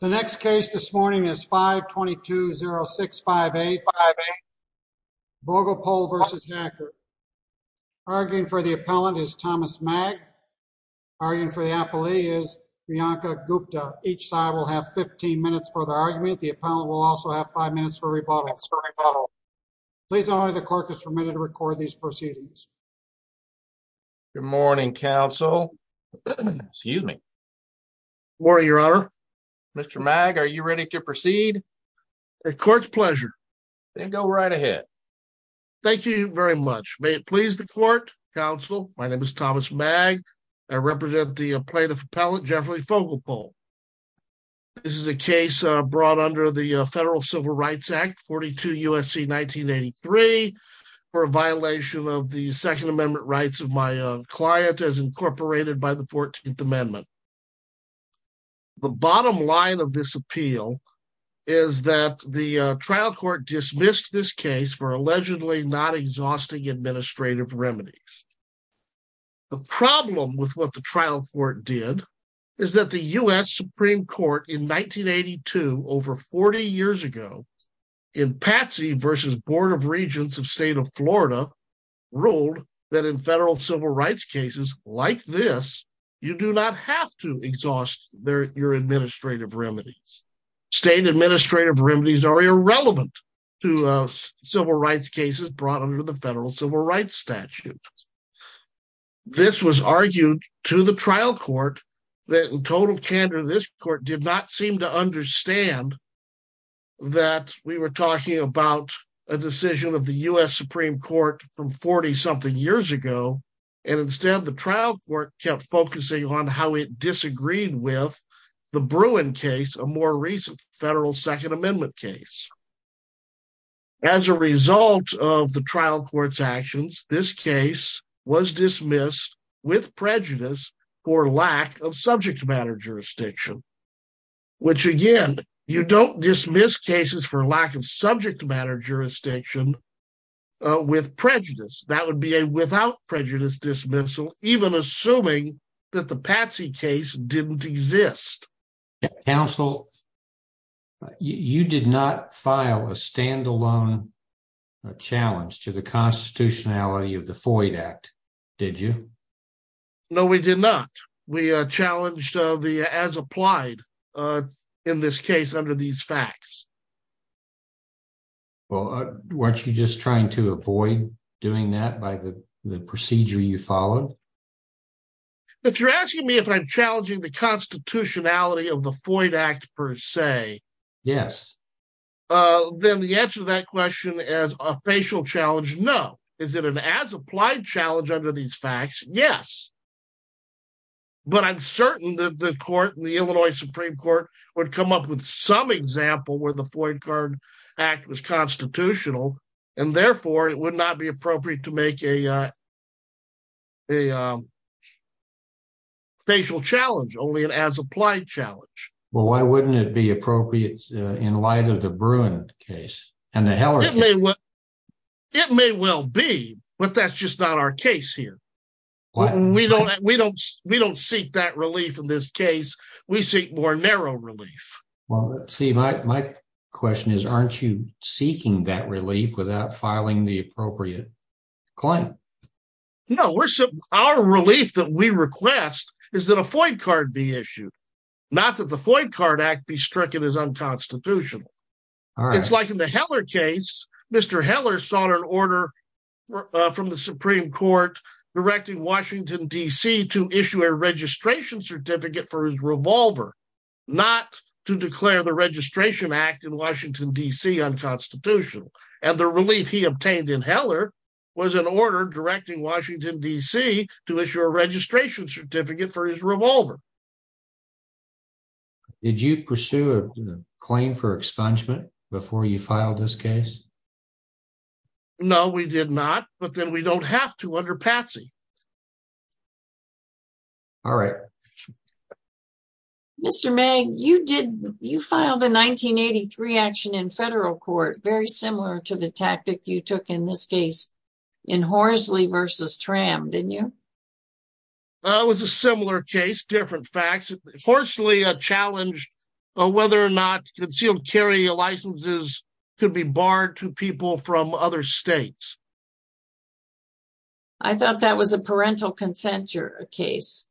The next case this morning is 522-0658, Vogelpohl v. Hacker. Arguing for the appellant is Thomas Magg. Arguing for the appellee is Priyanka Gupta. Each side will have 15 minutes for their argument. The appellant will also have 5 minutes for rebuttal. Please know that the clerk is permitted to record these proceedings. Good morning, counsel. Excuse me. Good morning, your honor. Mr. Magg, are you ready to proceed? At court's pleasure. Then go right ahead. Thank you very much. May it please the court, counsel. My name is Thomas Magg. I represent the plaintiff appellant, Jeffrey Vogelpohl. This is a case brought under the Federal Civil Rights Act, 42 U.S.C. 1983, for a violation of the Second Amendment rights of my client, as incorporated by the 14th Amendment. The bottom line of this appeal is that the trial court dismissed this case for allegedly not exhausting administrative remedies. The problem with what the trial court did is that the U.S. Supreme Court in 1982, over 40 years ago, in Patsy v. Board of Regents of State of Florida, ruled that in federal civil rights cases like this, you do not have to exhaust your administrative remedies. State administrative remedies are irrelevant to civil rights cases brought under the federal civil rights statute. This was argued to the trial court that, in total candor, this court did not seem to understand that we were talking about a decision of the U.S. Supreme Court from 40-something years ago, and instead the trial court kept focusing on how it disagreed with the Bruin case, a more recent federal Second Amendment case. As a result of the trial court's actions, this case was dismissed with prejudice for lack of subject matter jurisdiction, which, again, you don't dismiss cases for lack of subject matter jurisdiction with prejudice. That would be a without prejudice dismissal, even assuming that the Patsy case didn't exist. Counsel, you did not file a stand-alone challenge to the constitutionality of the Foyd Act, did you? No, we did not. We challenged the as-applied in this case under these facts. Well, weren't you just trying to avoid doing that by the procedure you followed? If you're asking me if I'm challenging the constitutionality of the Foyd Act, per se, then the answer to that question is a facial challenge, no. Is it an as-applied challenge under these facts? Yes, but I'm certain that the court, the Illinois Supreme Court, would come up with some example where the Foyd Card Act was constitutional, and, therefore, it would not be appropriate to make a facial challenge, only an as-applied challenge. Well, why wouldn't it be appropriate in light of the Bruin case and the Heller case? It may well be, but that's just not our case here. We don't seek that relief in this case. We seek more narrow relief. Well, see, my question is, aren't you seeking that relief without filing the appropriate claim? No, our relief that we request is that a Foyd Card be issued, not that the Foyd Card Act be stricken as unconstitutional. It's like in the Heller case. Mr. Heller sought an order from the Supreme Court directing Washington, D.C., to issue a registration certificate for his revolver, not to declare the Registration Act in Washington, D.C., unconstitutional. And the relief he obtained in Heller was an order directing Washington, D.C., to issue a registration certificate for his revolver. Did you pursue a claim for expungement before you filed this case? No, we did not, but then we don't have to under Patsy. All right. Mr. Magg, you filed a 1983 action in federal court, very similar to the tactic you took in this case in Horsley v. Tram, didn't you? It was a similar case, different facts. Horsley challenged whether or not concealed carry licenses could be barred to people from other states. I thought that was a parental consent case.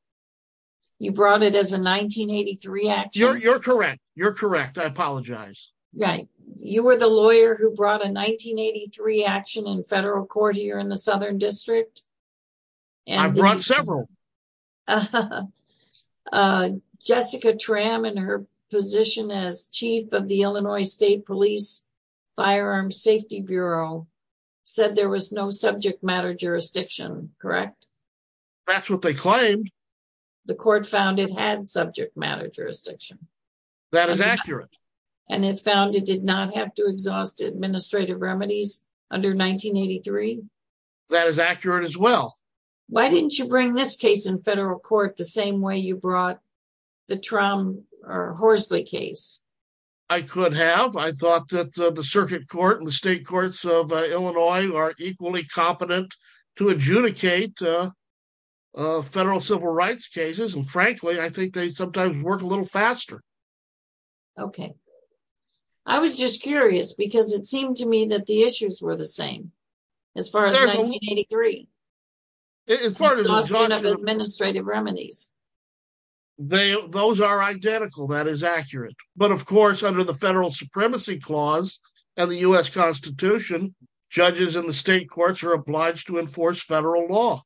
You brought it as a 1983 action. You're correct. You're correct. I apologize. Right. You were the lawyer who brought a 1983 action in federal court here in the Southern District. I brought several. Jessica Tram, in her position as chief of the Illinois State Police Firearm Safety Bureau, said there was no subject matter jurisdiction, correct? That's what they claimed. The court found it had subject matter jurisdiction. That is accurate. And it found it did not have to exhaust administrative remedies under 1983? That is accurate as well. Why didn't you bring this case in federal court the same way you brought the Tram or Horsley case? I could have. I thought that the circuit court and the state courts of Illinois are equally competent to adjudicate federal civil rights cases. And frankly, I think they sometimes work a little faster. Okay. I was just curious because it seemed to me that the issues were the same as far as 1983. It's the exhaustion of administrative remedies. Those are identical. That is accurate. But, of course, under the Federal Supremacy Clause and the U.S. Constitution, judges in the state courts are obliged to enforce federal law.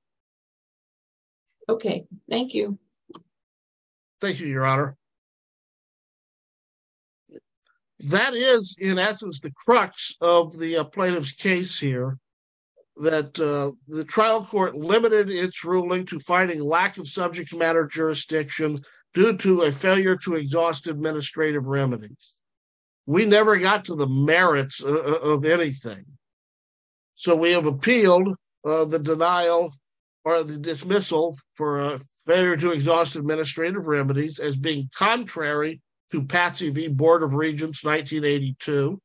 Okay. Thank you. Thank you, Your Honor. That is, in essence, the crux of the plaintiff's case here, that the trial court limited its ruling to finding lack of subject matter jurisdiction due to a failure to exhaust administrative remedies. We never got to the merits of anything. So we have appealed the denial or the dismissal for a failure to exhaust administrative remedies as being contrary to Patsy V. Board of Regents 1982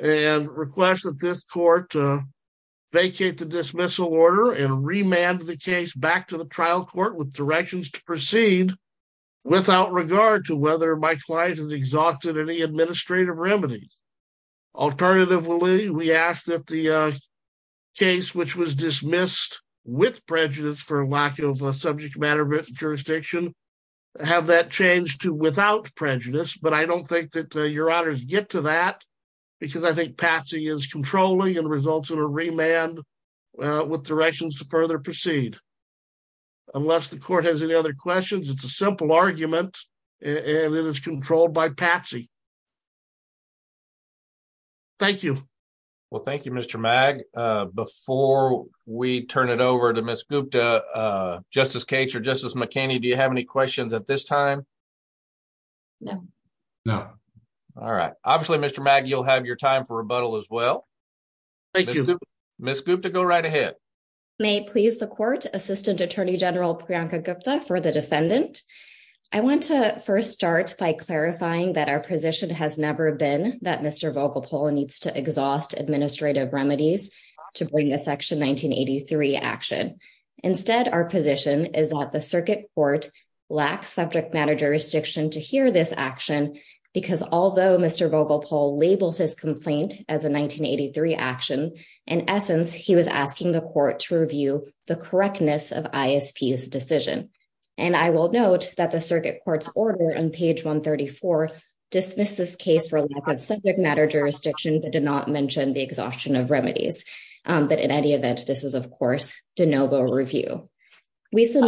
and request that this court vacate the dismissal order and remand the case back to the trial court with directions to proceed without regard to whether my client has exhausted any administrative remedies. Alternatively, we ask that the case which was dismissed with prejudice for lack of subject matter jurisdiction have that changed to without prejudice. But I don't think that Your Honors get to that because I think Patsy is controlling and results in a remand with directions to further proceed. Unless the court has any other questions, it's a simple argument and it is controlled by Patsy. Thank you. Well, thank you, Mr. Mag. Before we turn it over to Ms. Gupta, Justice Cates or Justice McKinney, do you have any questions at this time? No. No. All right. Obviously, Mr. Mag, you'll have your time for rebuttal as well. Thank you. Ms. Gupta, go right ahead. May it please the court, Assistant Attorney General Priyanka Gupta for the defendant. I want to first start by clarifying that our position has never been that Mr. Vogelpoel needs to exhaust administrative remedies to bring the Section 1983 action. Instead, our position is that the circuit court lacks subject matter jurisdiction to hear this action because although Mr. Vogelpoel labels his complaint as a 1983 action, in essence, he was asking the court to review the correctness of ISP's decision. And I will note that the circuit court's order on page 134 dismisses case for lack of subject matter jurisdiction but did not mention the exhaustion of remedies. But in any event, this is, of course, de novo review. Ms.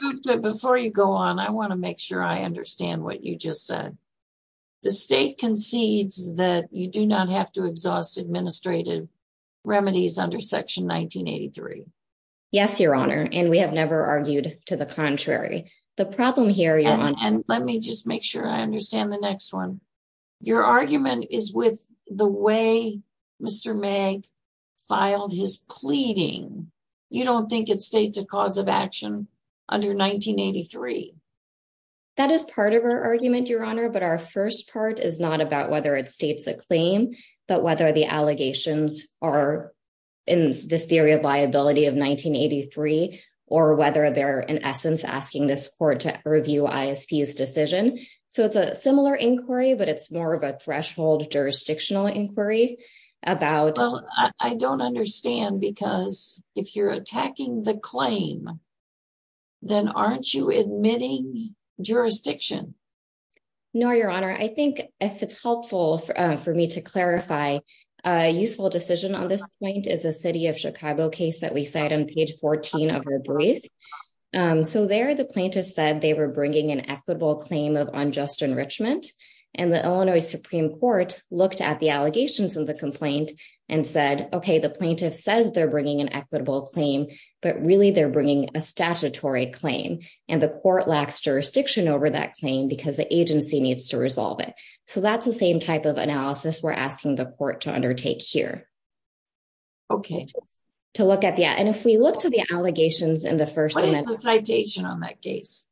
Gupta, before you go on, I want to make sure I understand what you just said. The state concedes that you do not have to exhaust administrative remedies under Section 1983. Yes, Your Honor, and we have never argued to the contrary. The problem here, Your Honor... And let me just make sure I understand the next one. Your argument is with the way Mr. Meg filed his pleading. You don't think it states a cause of action under 1983. That is part of our argument, Your Honor, but our first part is not about whether it states a claim, but whether the allegations are in this theory of liability of 1983 or whether they're, in essence, asking this court to review ISP's decision. So it's a similar inquiry, but it's more of a threshold jurisdictional inquiry about... No, Your Honor. I think if it's helpful for me to clarify, a useful decision on this point is a city of Chicago case that we cite on page 14 of your brief. So there, the plaintiff said they were bringing an equitable claim of unjust enrichment, and the Illinois Supreme Court looked at the allegations of the complaint and said, okay, the plaintiff says they're bringing an equitable claim, but really, they're bringing a statutory claim. And the court lacks jurisdiction over that claim because the agency needs to resolve it. So that's the same type of analysis we're asking the court to undertake here. Okay. To look at the... And if we look to the allegations in the first... What is the citation on that case?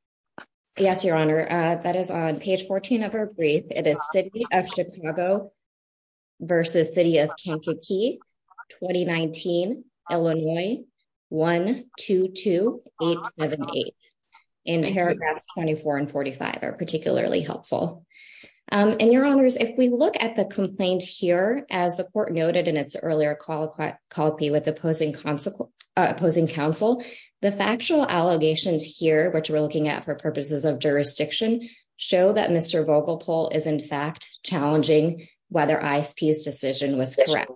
Yes, Your Honor. That is on page 14 of our brief. It is city of Chicago versus city of Kankakee, 2019, Illinois, 122878. And paragraphs 24 and 45 are particularly helpful. And, Your Honors, if we look at the complaint here, as the court noted in its earlier call with the opposing counsel, the factual allegations here, which we're looking at for purposes of jurisdiction, show that Mr. Vogelpol is in fact challenging whether ISP's decision was correct.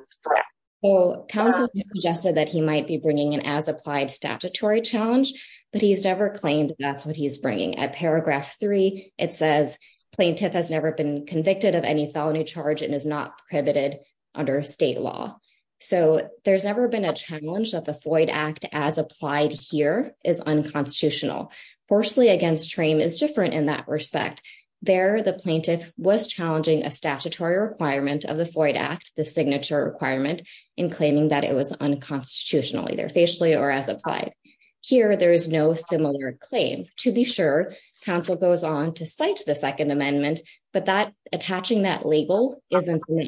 Counsel suggested that he might be bringing an as-applied statutory challenge, but he's never claimed that's what he's bringing. At paragraph 3, it says, plaintiff has never been convicted of any felony charge and is not prohibited under state law. So there's never been a challenge that the Floyd Act as applied here is unconstitutional. Forcely against frame is different in that respect. There, the plaintiff was challenging a statutory requirement of the Floyd Act, the signature requirement, in claiming that it was unconstitutional, either facially or as applied. Here, there is no similar claim. To be sure, counsel goes on to cite the Second Amendment, but that attaching that label isn't there.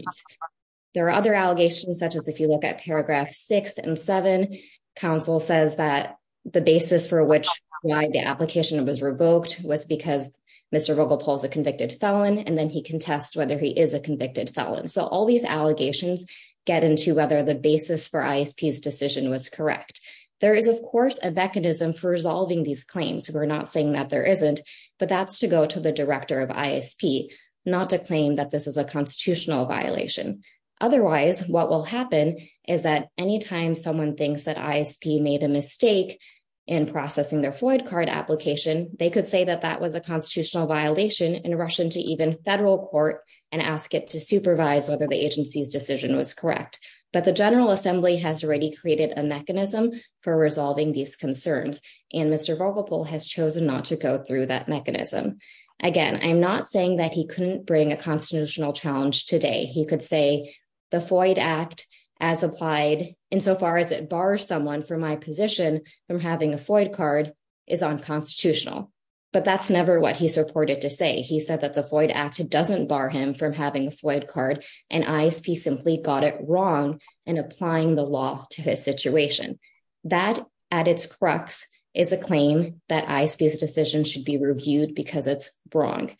There are other allegations, such as if you look at paragraph 6 and 7, counsel says that the basis for which why the application was revoked was because Mr. Vogelpol is a convicted felon, and then he contests whether he is a convicted felon. So all these allegations get into whether the basis for ISP's decision was correct. There is, of course, a mechanism for resolving these claims. We're not saying that there isn't, but that's to go to the director of ISP, not to claim that this is a constitutional violation. Otherwise, what will happen is that anytime someone thinks that ISP made a mistake in processing their Floyd card application, they could say that that was a constitutional violation and rush into even federal court and ask it to supervise whether the agency's decision was correct. But the General Assembly has already created a mechanism for resolving these concerns, and Mr. Vogelpol has chosen not to go through that mechanism. Again, I'm not saying that he couldn't bring a constitutional challenge today. He could say the Floyd Act, as applied insofar as it bars someone from my position from having a Floyd card, is unconstitutional. But that's never what he's reported to say. He said that the Floyd Act doesn't bar him from having a Floyd card, and ISP simply got it wrong in applying the law to his situation. That, at its crux, is a claim that ISP's decision should be reviewed because it's wrong.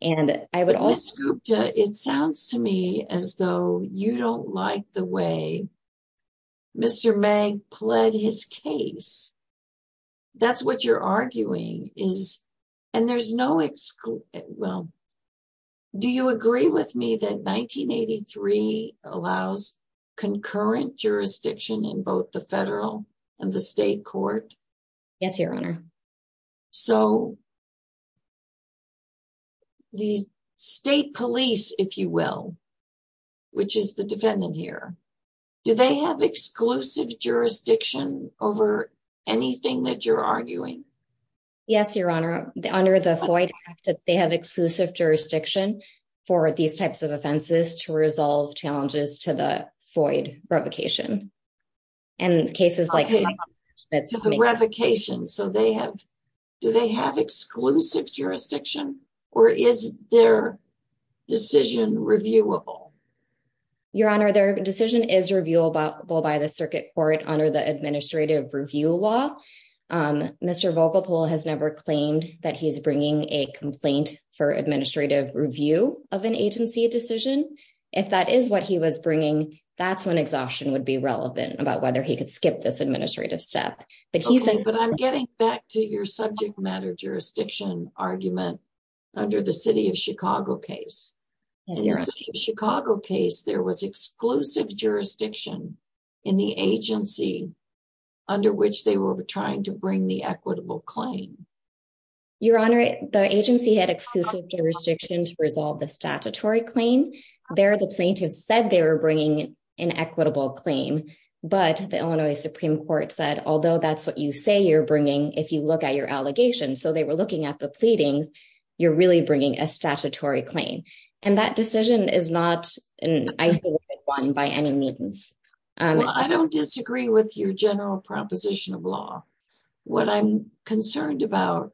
Ms. Gupta, it sounds to me as though you don't like the way Mr. Magg pled his case. That's what you're arguing. Do you agree with me that 1983 allows concurrent jurisdiction in both the federal and the state court? Yes, Your Honor. So, the state police, if you will, which is the defendant here, do they have exclusive jurisdiction over anything that you're arguing? Yes, Your Honor. Under the Floyd Act, they have exclusive jurisdiction for these types of offenses to resolve challenges to the Floyd revocation. Do they have exclusive jurisdiction, or is their decision reviewable? Your Honor, their decision is reviewable by the circuit court under the administrative review law. Mr. Volkopol has never claimed that he's bringing a complaint for administrative review of an agency decision. If that is what he was bringing, that's when exhaustion would be relevant about whether he could skip this administrative step. Okay, but I'm getting back to your subject matter jurisdiction argument under the City of Chicago case. In the City of Chicago case, there was exclusive jurisdiction in the agency under which they were trying to bring the equitable claim. Your Honor, the agency had exclusive jurisdiction to resolve the statutory claim. There, the plaintiff said they were bringing an equitable claim, but the Illinois Supreme Court said, although that's what you say you're bringing if you look at your allegations, so they were looking at the pleadings, you're really bringing a statutory claim, and that decision is not an isolated one by any means. I don't disagree with your general proposition of law. What I'm concerned about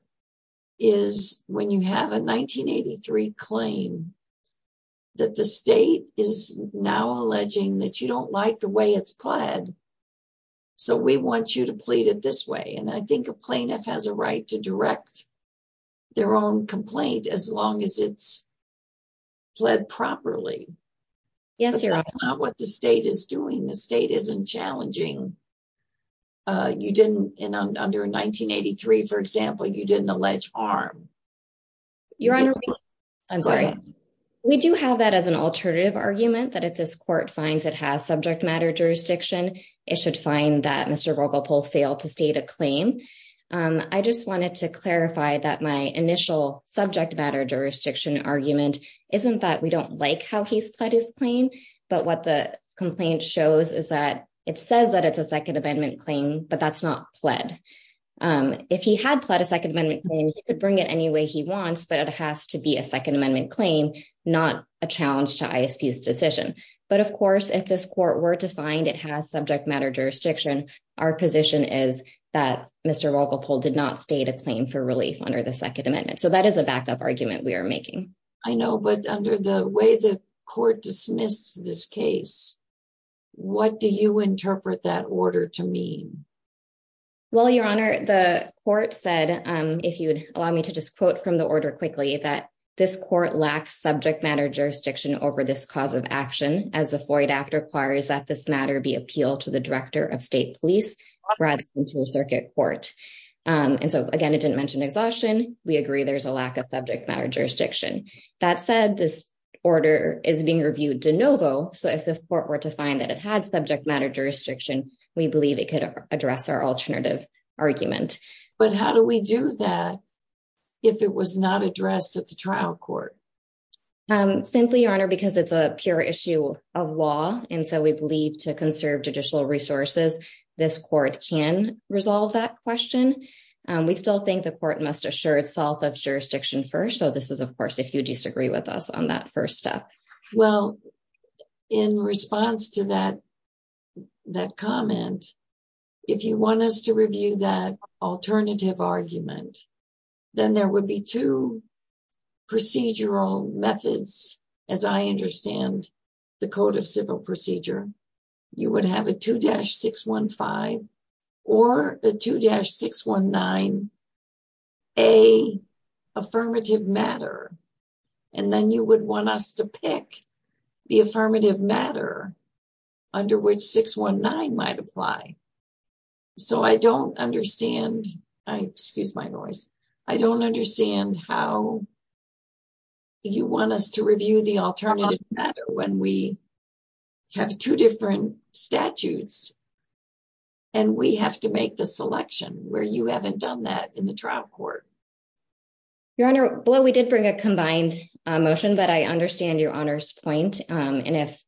is when you have a 1983 claim that the state is now alleging that you don't like the way it's pled, so we want you to plead it this way, and I think a plaintiff has a right to direct their own complaint as long as it's pled properly. Yes, Your Honor. But that's not what the state is doing. The state isn't challenging. You didn't, in under 1983, for example, you didn't allege arm. Your Honor, I'm sorry. We do have that as an alternative argument that if this court finds it has subject matter jurisdiction, it should find that Mr. Rogopoul failed to state a claim. I just wanted to clarify that my initial subject matter jurisdiction argument isn't that we don't like how he's pled his claim, but what the complaint shows is that it says that it's a Second Amendment claim, but that's not pled. If he had pled a Second Amendment claim, he could bring it any way he wants, but it has to be a Second Amendment claim, not a challenge to ISP's decision. But, of course, if this court were to find it has subject matter jurisdiction, our position is that Mr. Rogopoul did not state a claim for relief under the Second Amendment. So that is a backup argument we are making. I know, but under the way the court dismissed this case, what do you interpret that order to mean? Well, Your Honor, the court said, if you would allow me to just quote from the order quickly, that this court lacks subject matter jurisdiction over this cause of action, as the FOIA Act requires that this matter be appealed to the Director of State Police rather than to a circuit court. And so, again, it didn't mention exhaustion. We agree there's a lack of subject matter jurisdiction. That said, this order is being reviewed de novo. So if this court were to find that it has subject matter jurisdiction, we believe it could address our alternative argument. But how do we do that if it was not addressed at the trial court? Simply, Your Honor, because it's a pure issue of law, and so we believe to conserve judicial resources, this court can resolve that question. We still think the court must assure itself of jurisdiction first. So this is, of course, if you disagree with us on that first step. Well, in response to that comment, if you want us to review that alternative argument, then there would be two procedural methods, as I understand the Code of Civil Procedure. You would have a 2-615 or a 2-619A affirmative matter. And then you would want us to pick the affirmative matter under which 619 might apply. So I don't understand. Excuse my noise. I don't understand how you want us to review the alternative matter when we have two different statutes and we have to make the selection where you haven't done that in the trial court. Your Honor, we did bring a combined motion, but I understand Your Honor's point. And if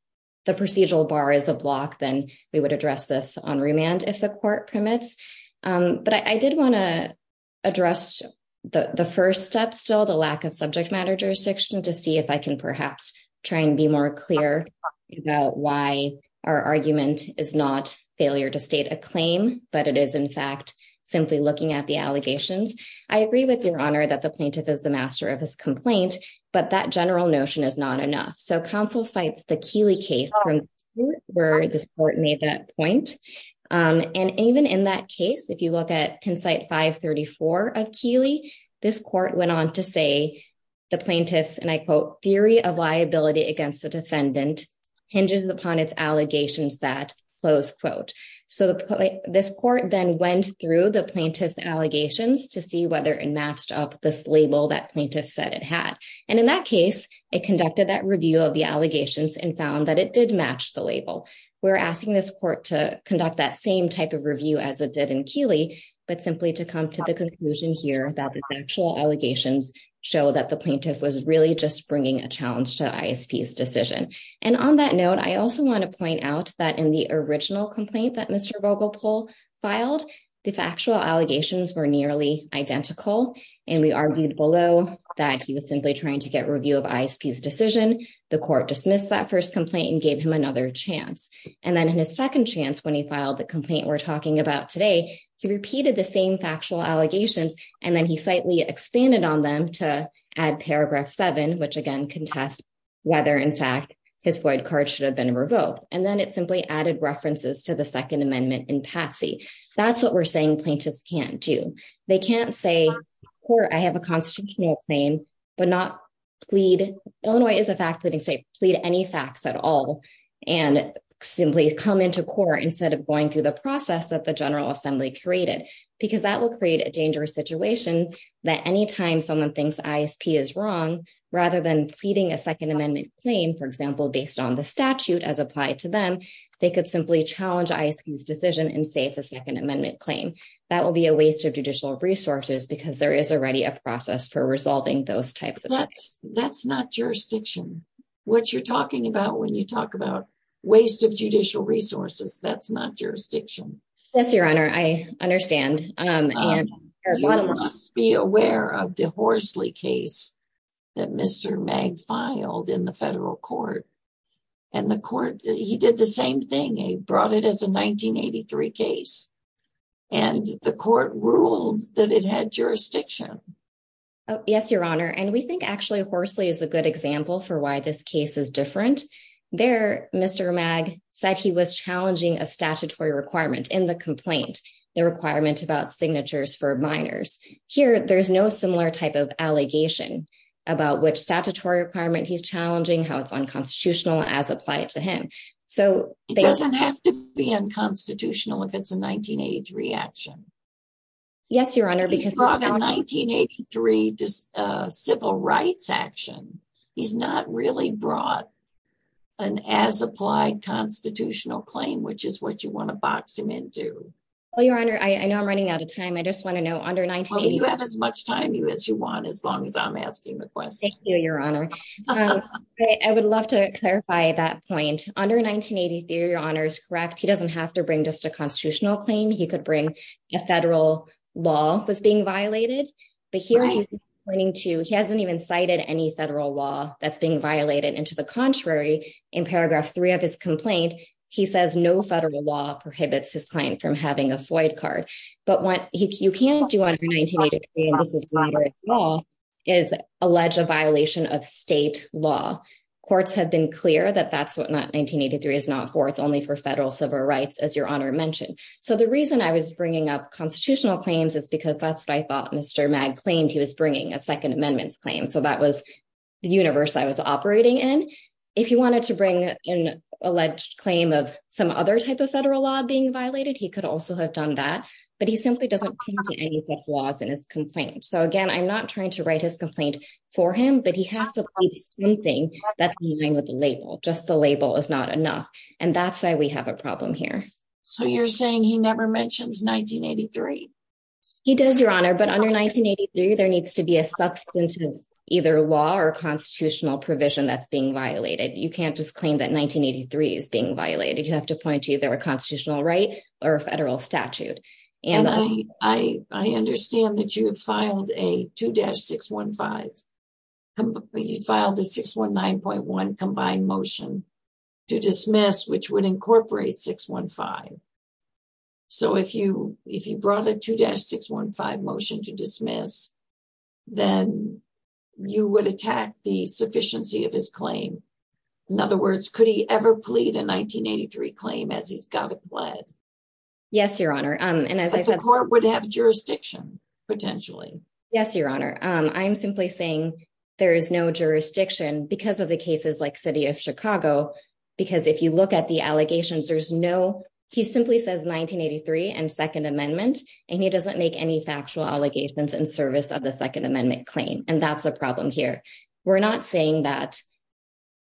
the procedural bar is a block, then we would address this on remand if the court permits. But I did want to address the first step still, the lack of subject matter jurisdiction, to see if I can perhaps try and be more clear about why our argument is not failure to state a claim, but it is, in fact, simply looking at the allegations. I agree with Your Honor that the plaintiff is the master of his complaint, but that general notion is not enough. So counsel cites the Keeley case where the court made that point. And even in that case, if you look at Concite 534 of Keeley, this court went on to say the plaintiff's, and I quote, theory of liability against the defendant hinges upon its allegations that, close quote. So this court then went through the plaintiff's allegations to see whether it matched up this label that plaintiff said it had. And in that case, it conducted that review of the allegations and found that it did match the label. We're asking this court to conduct that same type of review as it did in Keeley, but simply to come to the conclusion here that the actual allegations show that the plaintiff was really just bringing a challenge to ISP's decision. And on that note, I also want to point out that in the original complaint that Mr. Vogelpohl filed, the factual allegations were nearly identical. And we argued below that he was simply trying to get review of ISP's decision. The court dismissed that first complaint and gave him another chance. And then in his second chance, when he filed the complaint we're talking about today, he repeated the same factual allegations. And then he slightly expanded on them to add paragraph seven, which again contests whether in fact his void card should have been revoked. And then it simply added references to the Second Amendment in Patsy. That's what we're saying plaintiffs can't do. They can't say, I have a constitutional claim, but not plead. Illinois is a fact pleading state, plead any facts at all and simply come into court instead of going through the process that the General Assembly created, because that will create a dangerous situation that anytime someone thinks ISP is wrong, rather than pleading a Second Amendment claim, for example, based on the statute as applied to them, they could simply challenge ISP's decision and say it's a Second Amendment claim. That will be a waste of judicial resources because there is already a process for resolving those types of claims. That's not jurisdiction. What you're talking about when you talk about waste of judicial resources, that's not jurisdiction. Yes, Your Honor, I understand. You must be aware of the Horsley case that Mr. Mag filed in the federal court. And the court, he did the same thing. He brought it as a 1983 case. And the court ruled that it had jurisdiction. Yes, Your Honor. And we think actually Horsley is a good example for why this case is different. There, Mr. Mag said he was challenging a statutory requirement in the complaint. The requirement about signatures for minors. Here, there's no similar type of allegation about which statutory requirement he's challenging, how it's unconstitutional as applied to him. It doesn't have to be unconstitutional if it's a 1983 action. Yes, Your Honor, because 1983 civil rights action. He's not really brought an as applied constitutional claim, which is what you want to box him into. Well, Your Honor, I know I'm running out of time. I just want to know under 19. You have as much time as you want. As long as I'm asking the question, Your Honor. I would love to clarify that point under 1983. Your Honor is correct. He doesn't have to bring just a constitutional claim. He could bring a federal law was being violated. But here he's pointing to he hasn't even cited any federal law that's being violated. And to the contrary, in paragraph three of his complaint, he says no federal law prohibits his client from having a FOIA card. But what you can't do under 1983, and this is a minor at small, is allege a violation of state law. Courts have been clear that that's what 1983 is not for. It's only for federal civil rights, as Your Honor mentioned. So the reason I was bringing up constitutional claims is because that's what I thought Mr. Mag claimed he was bringing a Second Amendment claim. So that was the universe I was operating in. If you wanted to bring an alleged claim of some other type of federal law being violated, he could also have done that. But he simply doesn't come to anything laws in his complaint. So, again, I'm not trying to write his complaint for him, but he has to leave something that's in line with the label. Just the label is not enough. And that's why we have a problem here. So you're saying he never mentions 1983? He does, Your Honor. But under 1983, there needs to be a substantive either law or constitutional provision that's being violated. You can't just claim that 1983 is being violated. You have to point to either a constitutional right or a federal statute. I understand that you have filed a 2-615. You filed a 619.1 combined motion to dismiss, which would incorporate 615. So if you brought a 2-615 motion to dismiss, then you would attack the sufficiency of his claim. In other words, could he ever plead a 1983 claim as he's got it pled? Yes, Your Honor. But the court would have jurisdiction, potentially. Yes, Your Honor. I'm simply saying there is no jurisdiction because of the cases like City of Chicago. Because if you look at the allegations, there's no – he simply says 1983 and Second Amendment. And he doesn't make any factual allegations in service of the Second Amendment claim. And that's a problem here. We're not saying that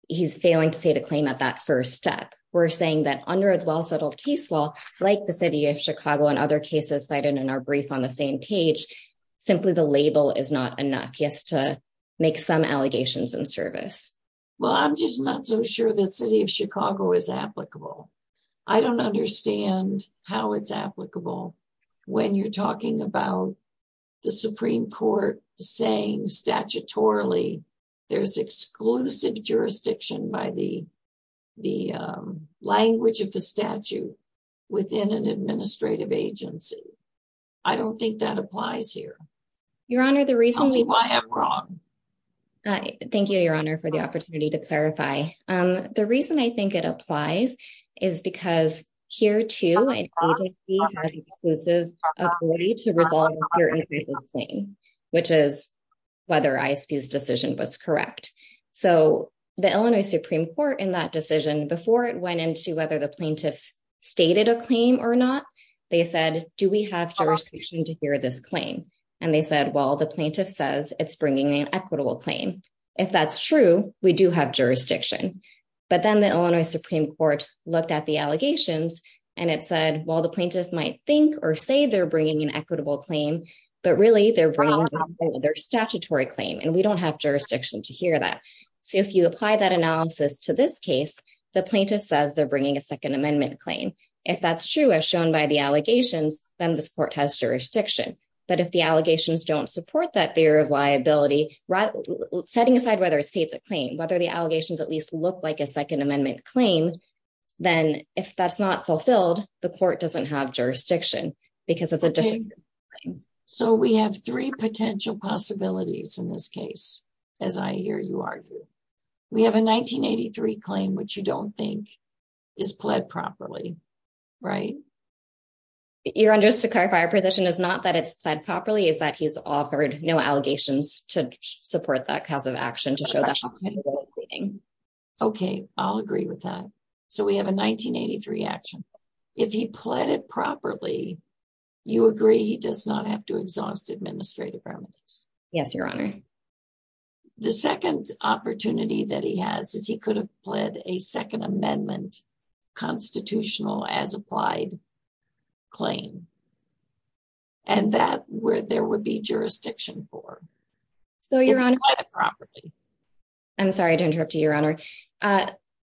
he's failing to state a claim at that first step. We're saying that under a well-settled case law, like the City of Chicago and other cases cited in our brief on the same page, simply the label is not enough just to make some allegations in service. Well, I'm just not so sure that City of Chicago is applicable. I don't understand how it's applicable. When you're talking about the Supreme Court saying statutorily there's exclusive jurisdiction by the language of the statute within an administrative agency. I don't think that applies here. Your Honor, the reason – Tell me why I'm wrong. Thank you, Your Honor, for the opportunity to clarify. The reason I think it applies is because here, too, an agency has exclusive authority to resolve a certain type of claim, which is whether ISP's decision was correct. So the Illinois Supreme Court in that decision, before it went into whether the plaintiffs stated a claim or not, they said, do we have jurisdiction to hear this claim? And they said, well, the plaintiff says it's bringing an equitable claim. If that's true, we do have jurisdiction. But then the Illinois Supreme Court looked at the allegations, and it said, well, the plaintiff might think or say they're bringing an equitable claim, but really they're bringing their statutory claim, and we don't have jurisdiction to hear that. So if you apply that analysis to this case, the plaintiff says they're bringing a Second Amendment claim. If that's true, as shown by the allegations, then this court has jurisdiction. But if the allegations don't support that fear of liability, setting aside whether it states a claim, whether the allegations at least look like a Second Amendment claim, then if that's not fulfilled, the court doesn't have jurisdiction because it's a different claim. So we have three potential possibilities in this case, as I hear you argue. We have a 1983 claim, which you don't think is pled properly, right? Your Honor, just to clarify, our position is not that it's pled properly, it's that he's offered no allegations to support that cause of action to show that he's pleading. Okay, I'll agree with that. So we have a 1983 action. If he pled it properly, you agree he does not have to exhaust administrative remedies? Yes, Your Honor. The second opportunity that he has is he could have pled a Second Amendment constitutional as applied claim. And that where there would be jurisdiction for. So, Your Honor, I'm sorry to interrupt you, Your Honor.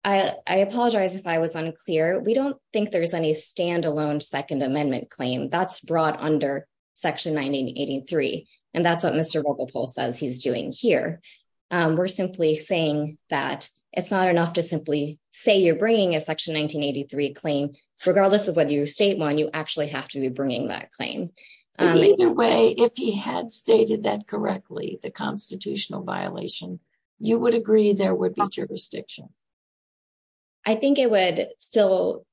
I apologize if I was unclear. We don't think there's any standalone Second Amendment claim that's brought under Section 1983. And that's what Mr. Rogopol says he's doing here. We're simply saying that it's not enough to simply say you're bringing a Section 1983 claim, regardless of whether you state one, you actually have to be bringing that claim. Either way, if he had stated that correctly, the constitutional violation, you would agree there would be jurisdiction? I think it would still,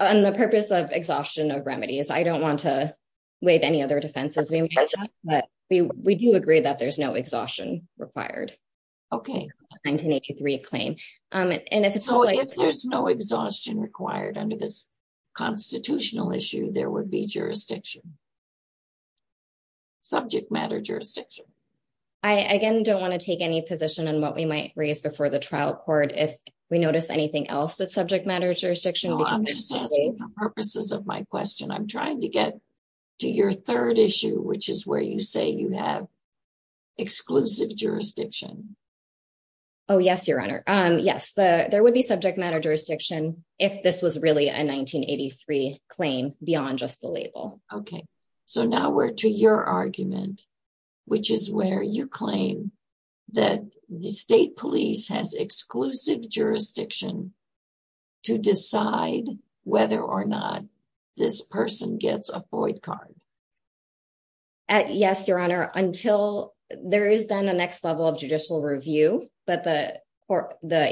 on the purpose of exhaustion of remedies, I don't want to waive any other defenses. But we do agree that there's no exhaustion required. Okay. 1983 claim. So if there's no exhaustion required under this constitutional issue, there would be jurisdiction? Subject matter jurisdiction? I, again, don't want to take any position on what we might raise before the trial court if we notice anything else with subject matter jurisdiction. I'm just asking for purposes of my question. I'm trying to get to your third issue, which is where you say you have exclusive jurisdiction. Oh, yes, Your Honor. Yes, there would be subject matter jurisdiction if this was really a 1983 claim beyond just the label. Okay. So now we're to your argument, which is where you claim that the state police has exclusive jurisdiction to decide whether or not this person gets a void card. Yes, Your Honor, until there is then a next level of judicial review, but the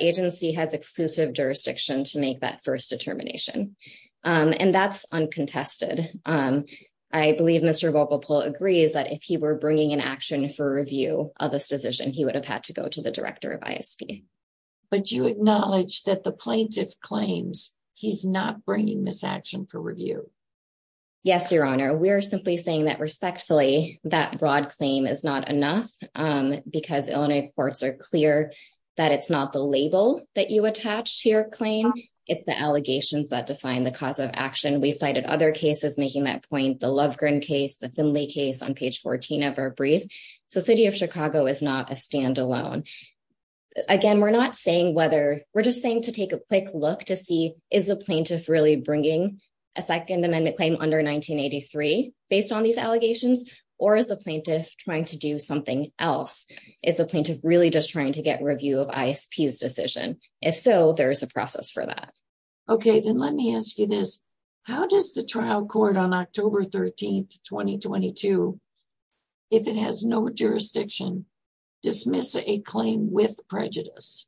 agency has exclusive jurisdiction to make that first determination. And that's uncontested. I believe Mr. Volkopol agrees that if he were bringing an action for review of this decision, he would have had to go to the director of ISP. But you acknowledge that the plaintiff claims he's not bringing this action for review. Yes, Your Honor. We're simply saying that respectfully, that broad claim is not enough because Illinois courts are clear that it's not the label that you attach to your claim. It's the allegations that define the cause of action. We've cited other cases making that point, the Lovegren case, the Finley case on page 14 of our brief. So City of Chicago is not a standalone. Again, we're not saying whether we're just saying to take a quick look to see, is the plaintiff really bringing a second amendment claim under 1983 based on these allegations? Or is the plaintiff trying to do something else? Is the plaintiff really just trying to get review of ISP's decision? If so, there is a process for that. Okay, then let me ask you this. How does the trial court on October 13th, 2022, if it has no jurisdiction, dismiss a claim with prejudice?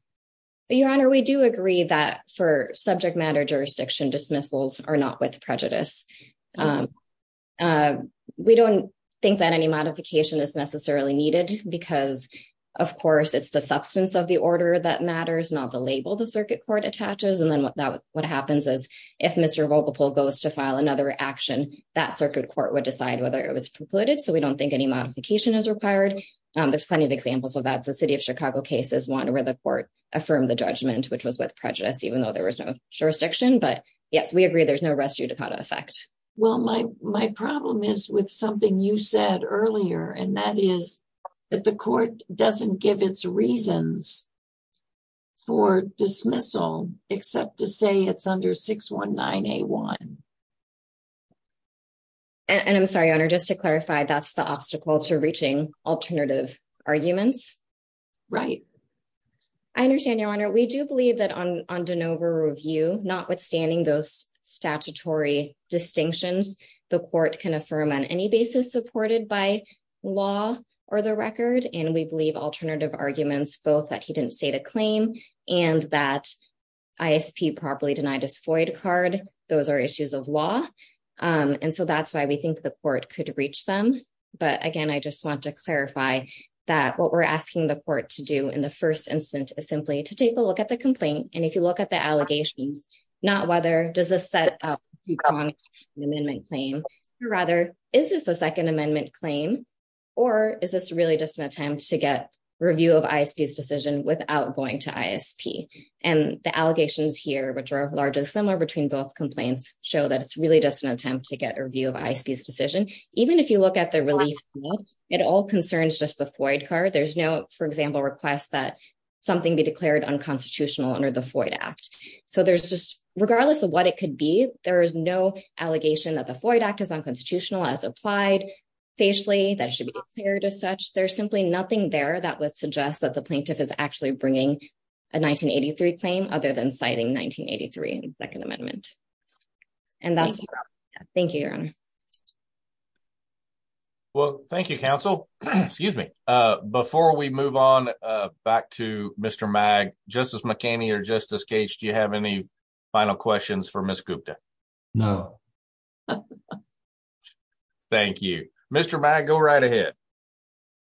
Your Honor, we do agree that for subject matter jurisdiction dismissals are not with prejudice. We don't think that any modification is necessarily needed because, of course, it's the substance of the order that matters, not the label the circuit court attaches. And then what happens is if Mr. Volkopol goes to file another action, that circuit court would decide whether it was precluded. So we don't think any modification is required. There's plenty of examples of that. The City of Chicago case is one where the court affirmed the judgment, which was with prejudice, even though there was no jurisdiction. But, yes, we agree there's no res judicata effect. Well, my problem is with something you said earlier, and that is that the court doesn't give its reasons for dismissal except to say it's under 619A1. And I'm sorry, Your Honor, just to clarify, that's the obstacle to reaching alternative arguments? Right. I understand, Your Honor. We do believe that on de novo review, notwithstanding those statutory distinctions, the court can affirm on any basis supported by law or the record. And we believe alternative arguments, both that he didn't state a claim and that ISP properly denied his FOIA card, those are issues of law. And so that's why we think the court could reach them. But, again, I just want to clarify that what we're asking the court to do in the first instance is simply to take a look at the complaint. And if you look at the allegations, not whether does this set up an amendment claim, but rather, is this a Second Amendment claim? Or is this really just an attempt to get review of ISP's decision without going to ISP? And the allegations here, which are largely similar between both complaints, show that it's really just an attempt to get a review of ISP's decision. Even if you look at the relief, it all concerns just the FOIA card. There's no, for example, request that something be declared unconstitutional under the FOIA Act. So there's just regardless of what it could be, there is no allegation that the FOIA Act is unconstitutional as applied facially, that it should be declared as such. There's simply nothing there that would suggest that the plaintiff is actually bringing a 1983 claim other than citing 1983 in the Second Amendment. And that's it. Thank you, Your Honor. Well, thank you, counsel. Excuse me. Before we move on back to Mr. Mag, Justice McKinney or Justice Cage, do you have any final questions for Ms. Gupta? No. Thank you. Mr. Mag, go right ahead.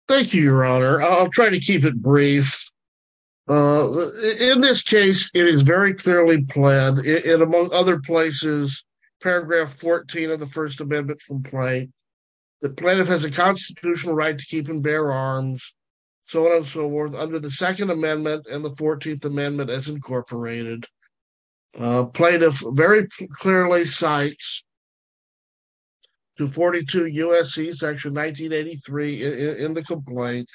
Thank you, Your Honor. I'll try to keep it brief. In this case, it is very clearly planned, and among other places, paragraph 14 of the First Amendment complaint, the plaintiff has a constitutional right to keep and bear arms, so on and so forth, under the Second Amendment and the Fourteenth Amendment as incorporated. Plaintiff very clearly cites 242 U.S.C. section 1983 in the complaint.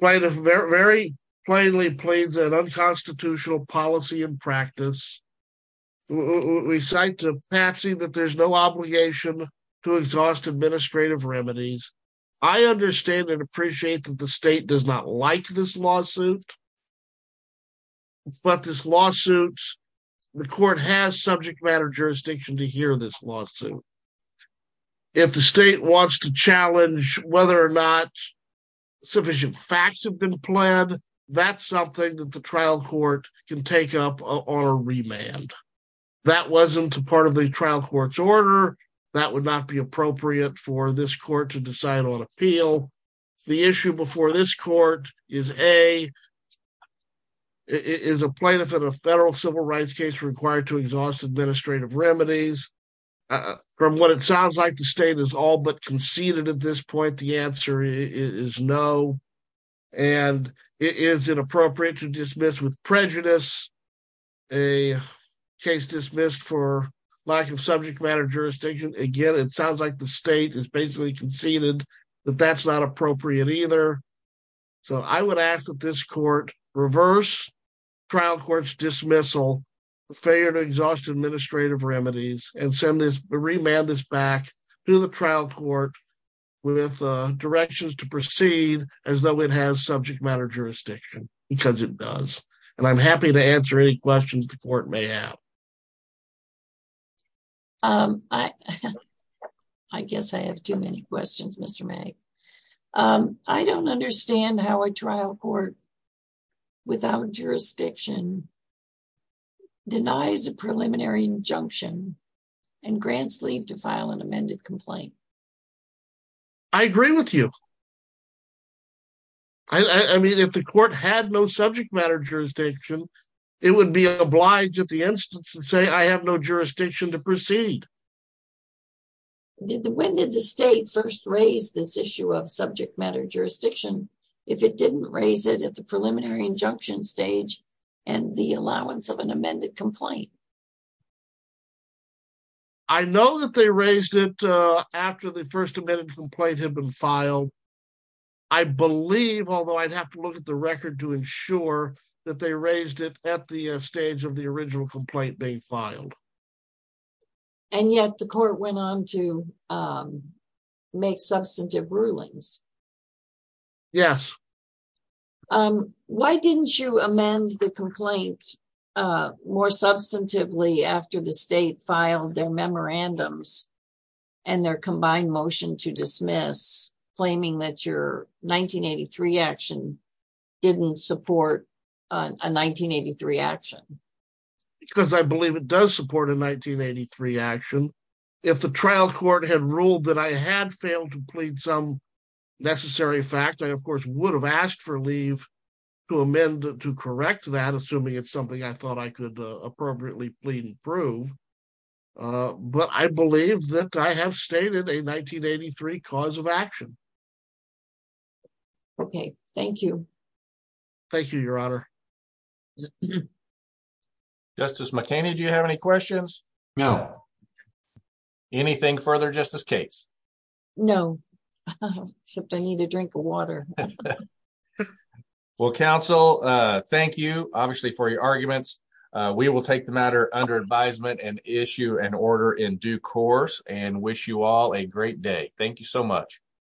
Plaintiff very plainly pleads an unconstitutional policy and practice. We cite the passing that there's no obligation to exhaust administrative remedies. I understand and appreciate that the state does not like this lawsuit, but this lawsuit, the court has subject matter jurisdiction to hear this lawsuit. If the state wants to challenge whether or not sufficient facts have been pled, that's something that the trial court can take up on a remand. That wasn't a part of the trial court's order. That would not be appropriate for this court to decide on appeal. The issue before this court is, A, is a plaintiff in a federal civil rights case required to exhaust administrative remedies? From what it sounds like, the state is all but conceded at this point. The answer is no. And is it appropriate to dismiss with prejudice a case dismissed for lack of subject matter jurisdiction? Again, it sounds like the state has basically conceded that that's not appropriate either. So I would ask that this court reverse trial court's dismissal, failure to exhaust administrative remedies, and send this remand this back to the trial court with directions to proceed as though it has subject matter jurisdiction, because it does. And I'm happy to answer any questions the court may have. I guess I have too many questions, Mr. May. I don't understand how a trial court without jurisdiction denies a preliminary injunction and grants leave to file an amended complaint. I agree with you. I mean, if the court had no subject matter jurisdiction, it would be obliged at the instance to say, I have no jurisdiction to proceed. When did the state first raise this issue of subject matter jurisdiction? If it didn't raise it at the preliminary injunction stage and the allowance of an amended complaint? I know that they raised it after the first amended complaint had been filed. I believe, although I'd have to look at the record to ensure that they raised it at the stage of the original complaint being filed. And yet the court went on to make substantive rulings. Yes. Why didn't you amend the complaint more substantively after the state filed their memorandums and their combined motion to dismiss, claiming that your 1983 action didn't support a 1983 action? Because I believe it does support a 1983 action. If the trial court had ruled that I had failed to plead some necessary fact, I, of course, would have asked for leave to amend to correct that, assuming it's something I thought I could appropriately plead and prove. But I believe that I have stated a 1983 cause of action. Okay, thank you. Thank you, Your Honor. Justice McKinney, do you have any questions? No. Anything further, Justice Cates? No, except I need a drink of water. Well, counsel, thank you, obviously, for your arguments. We will take the matter under advisement and issue an order in due course and wish you all a great day. Thank you so much.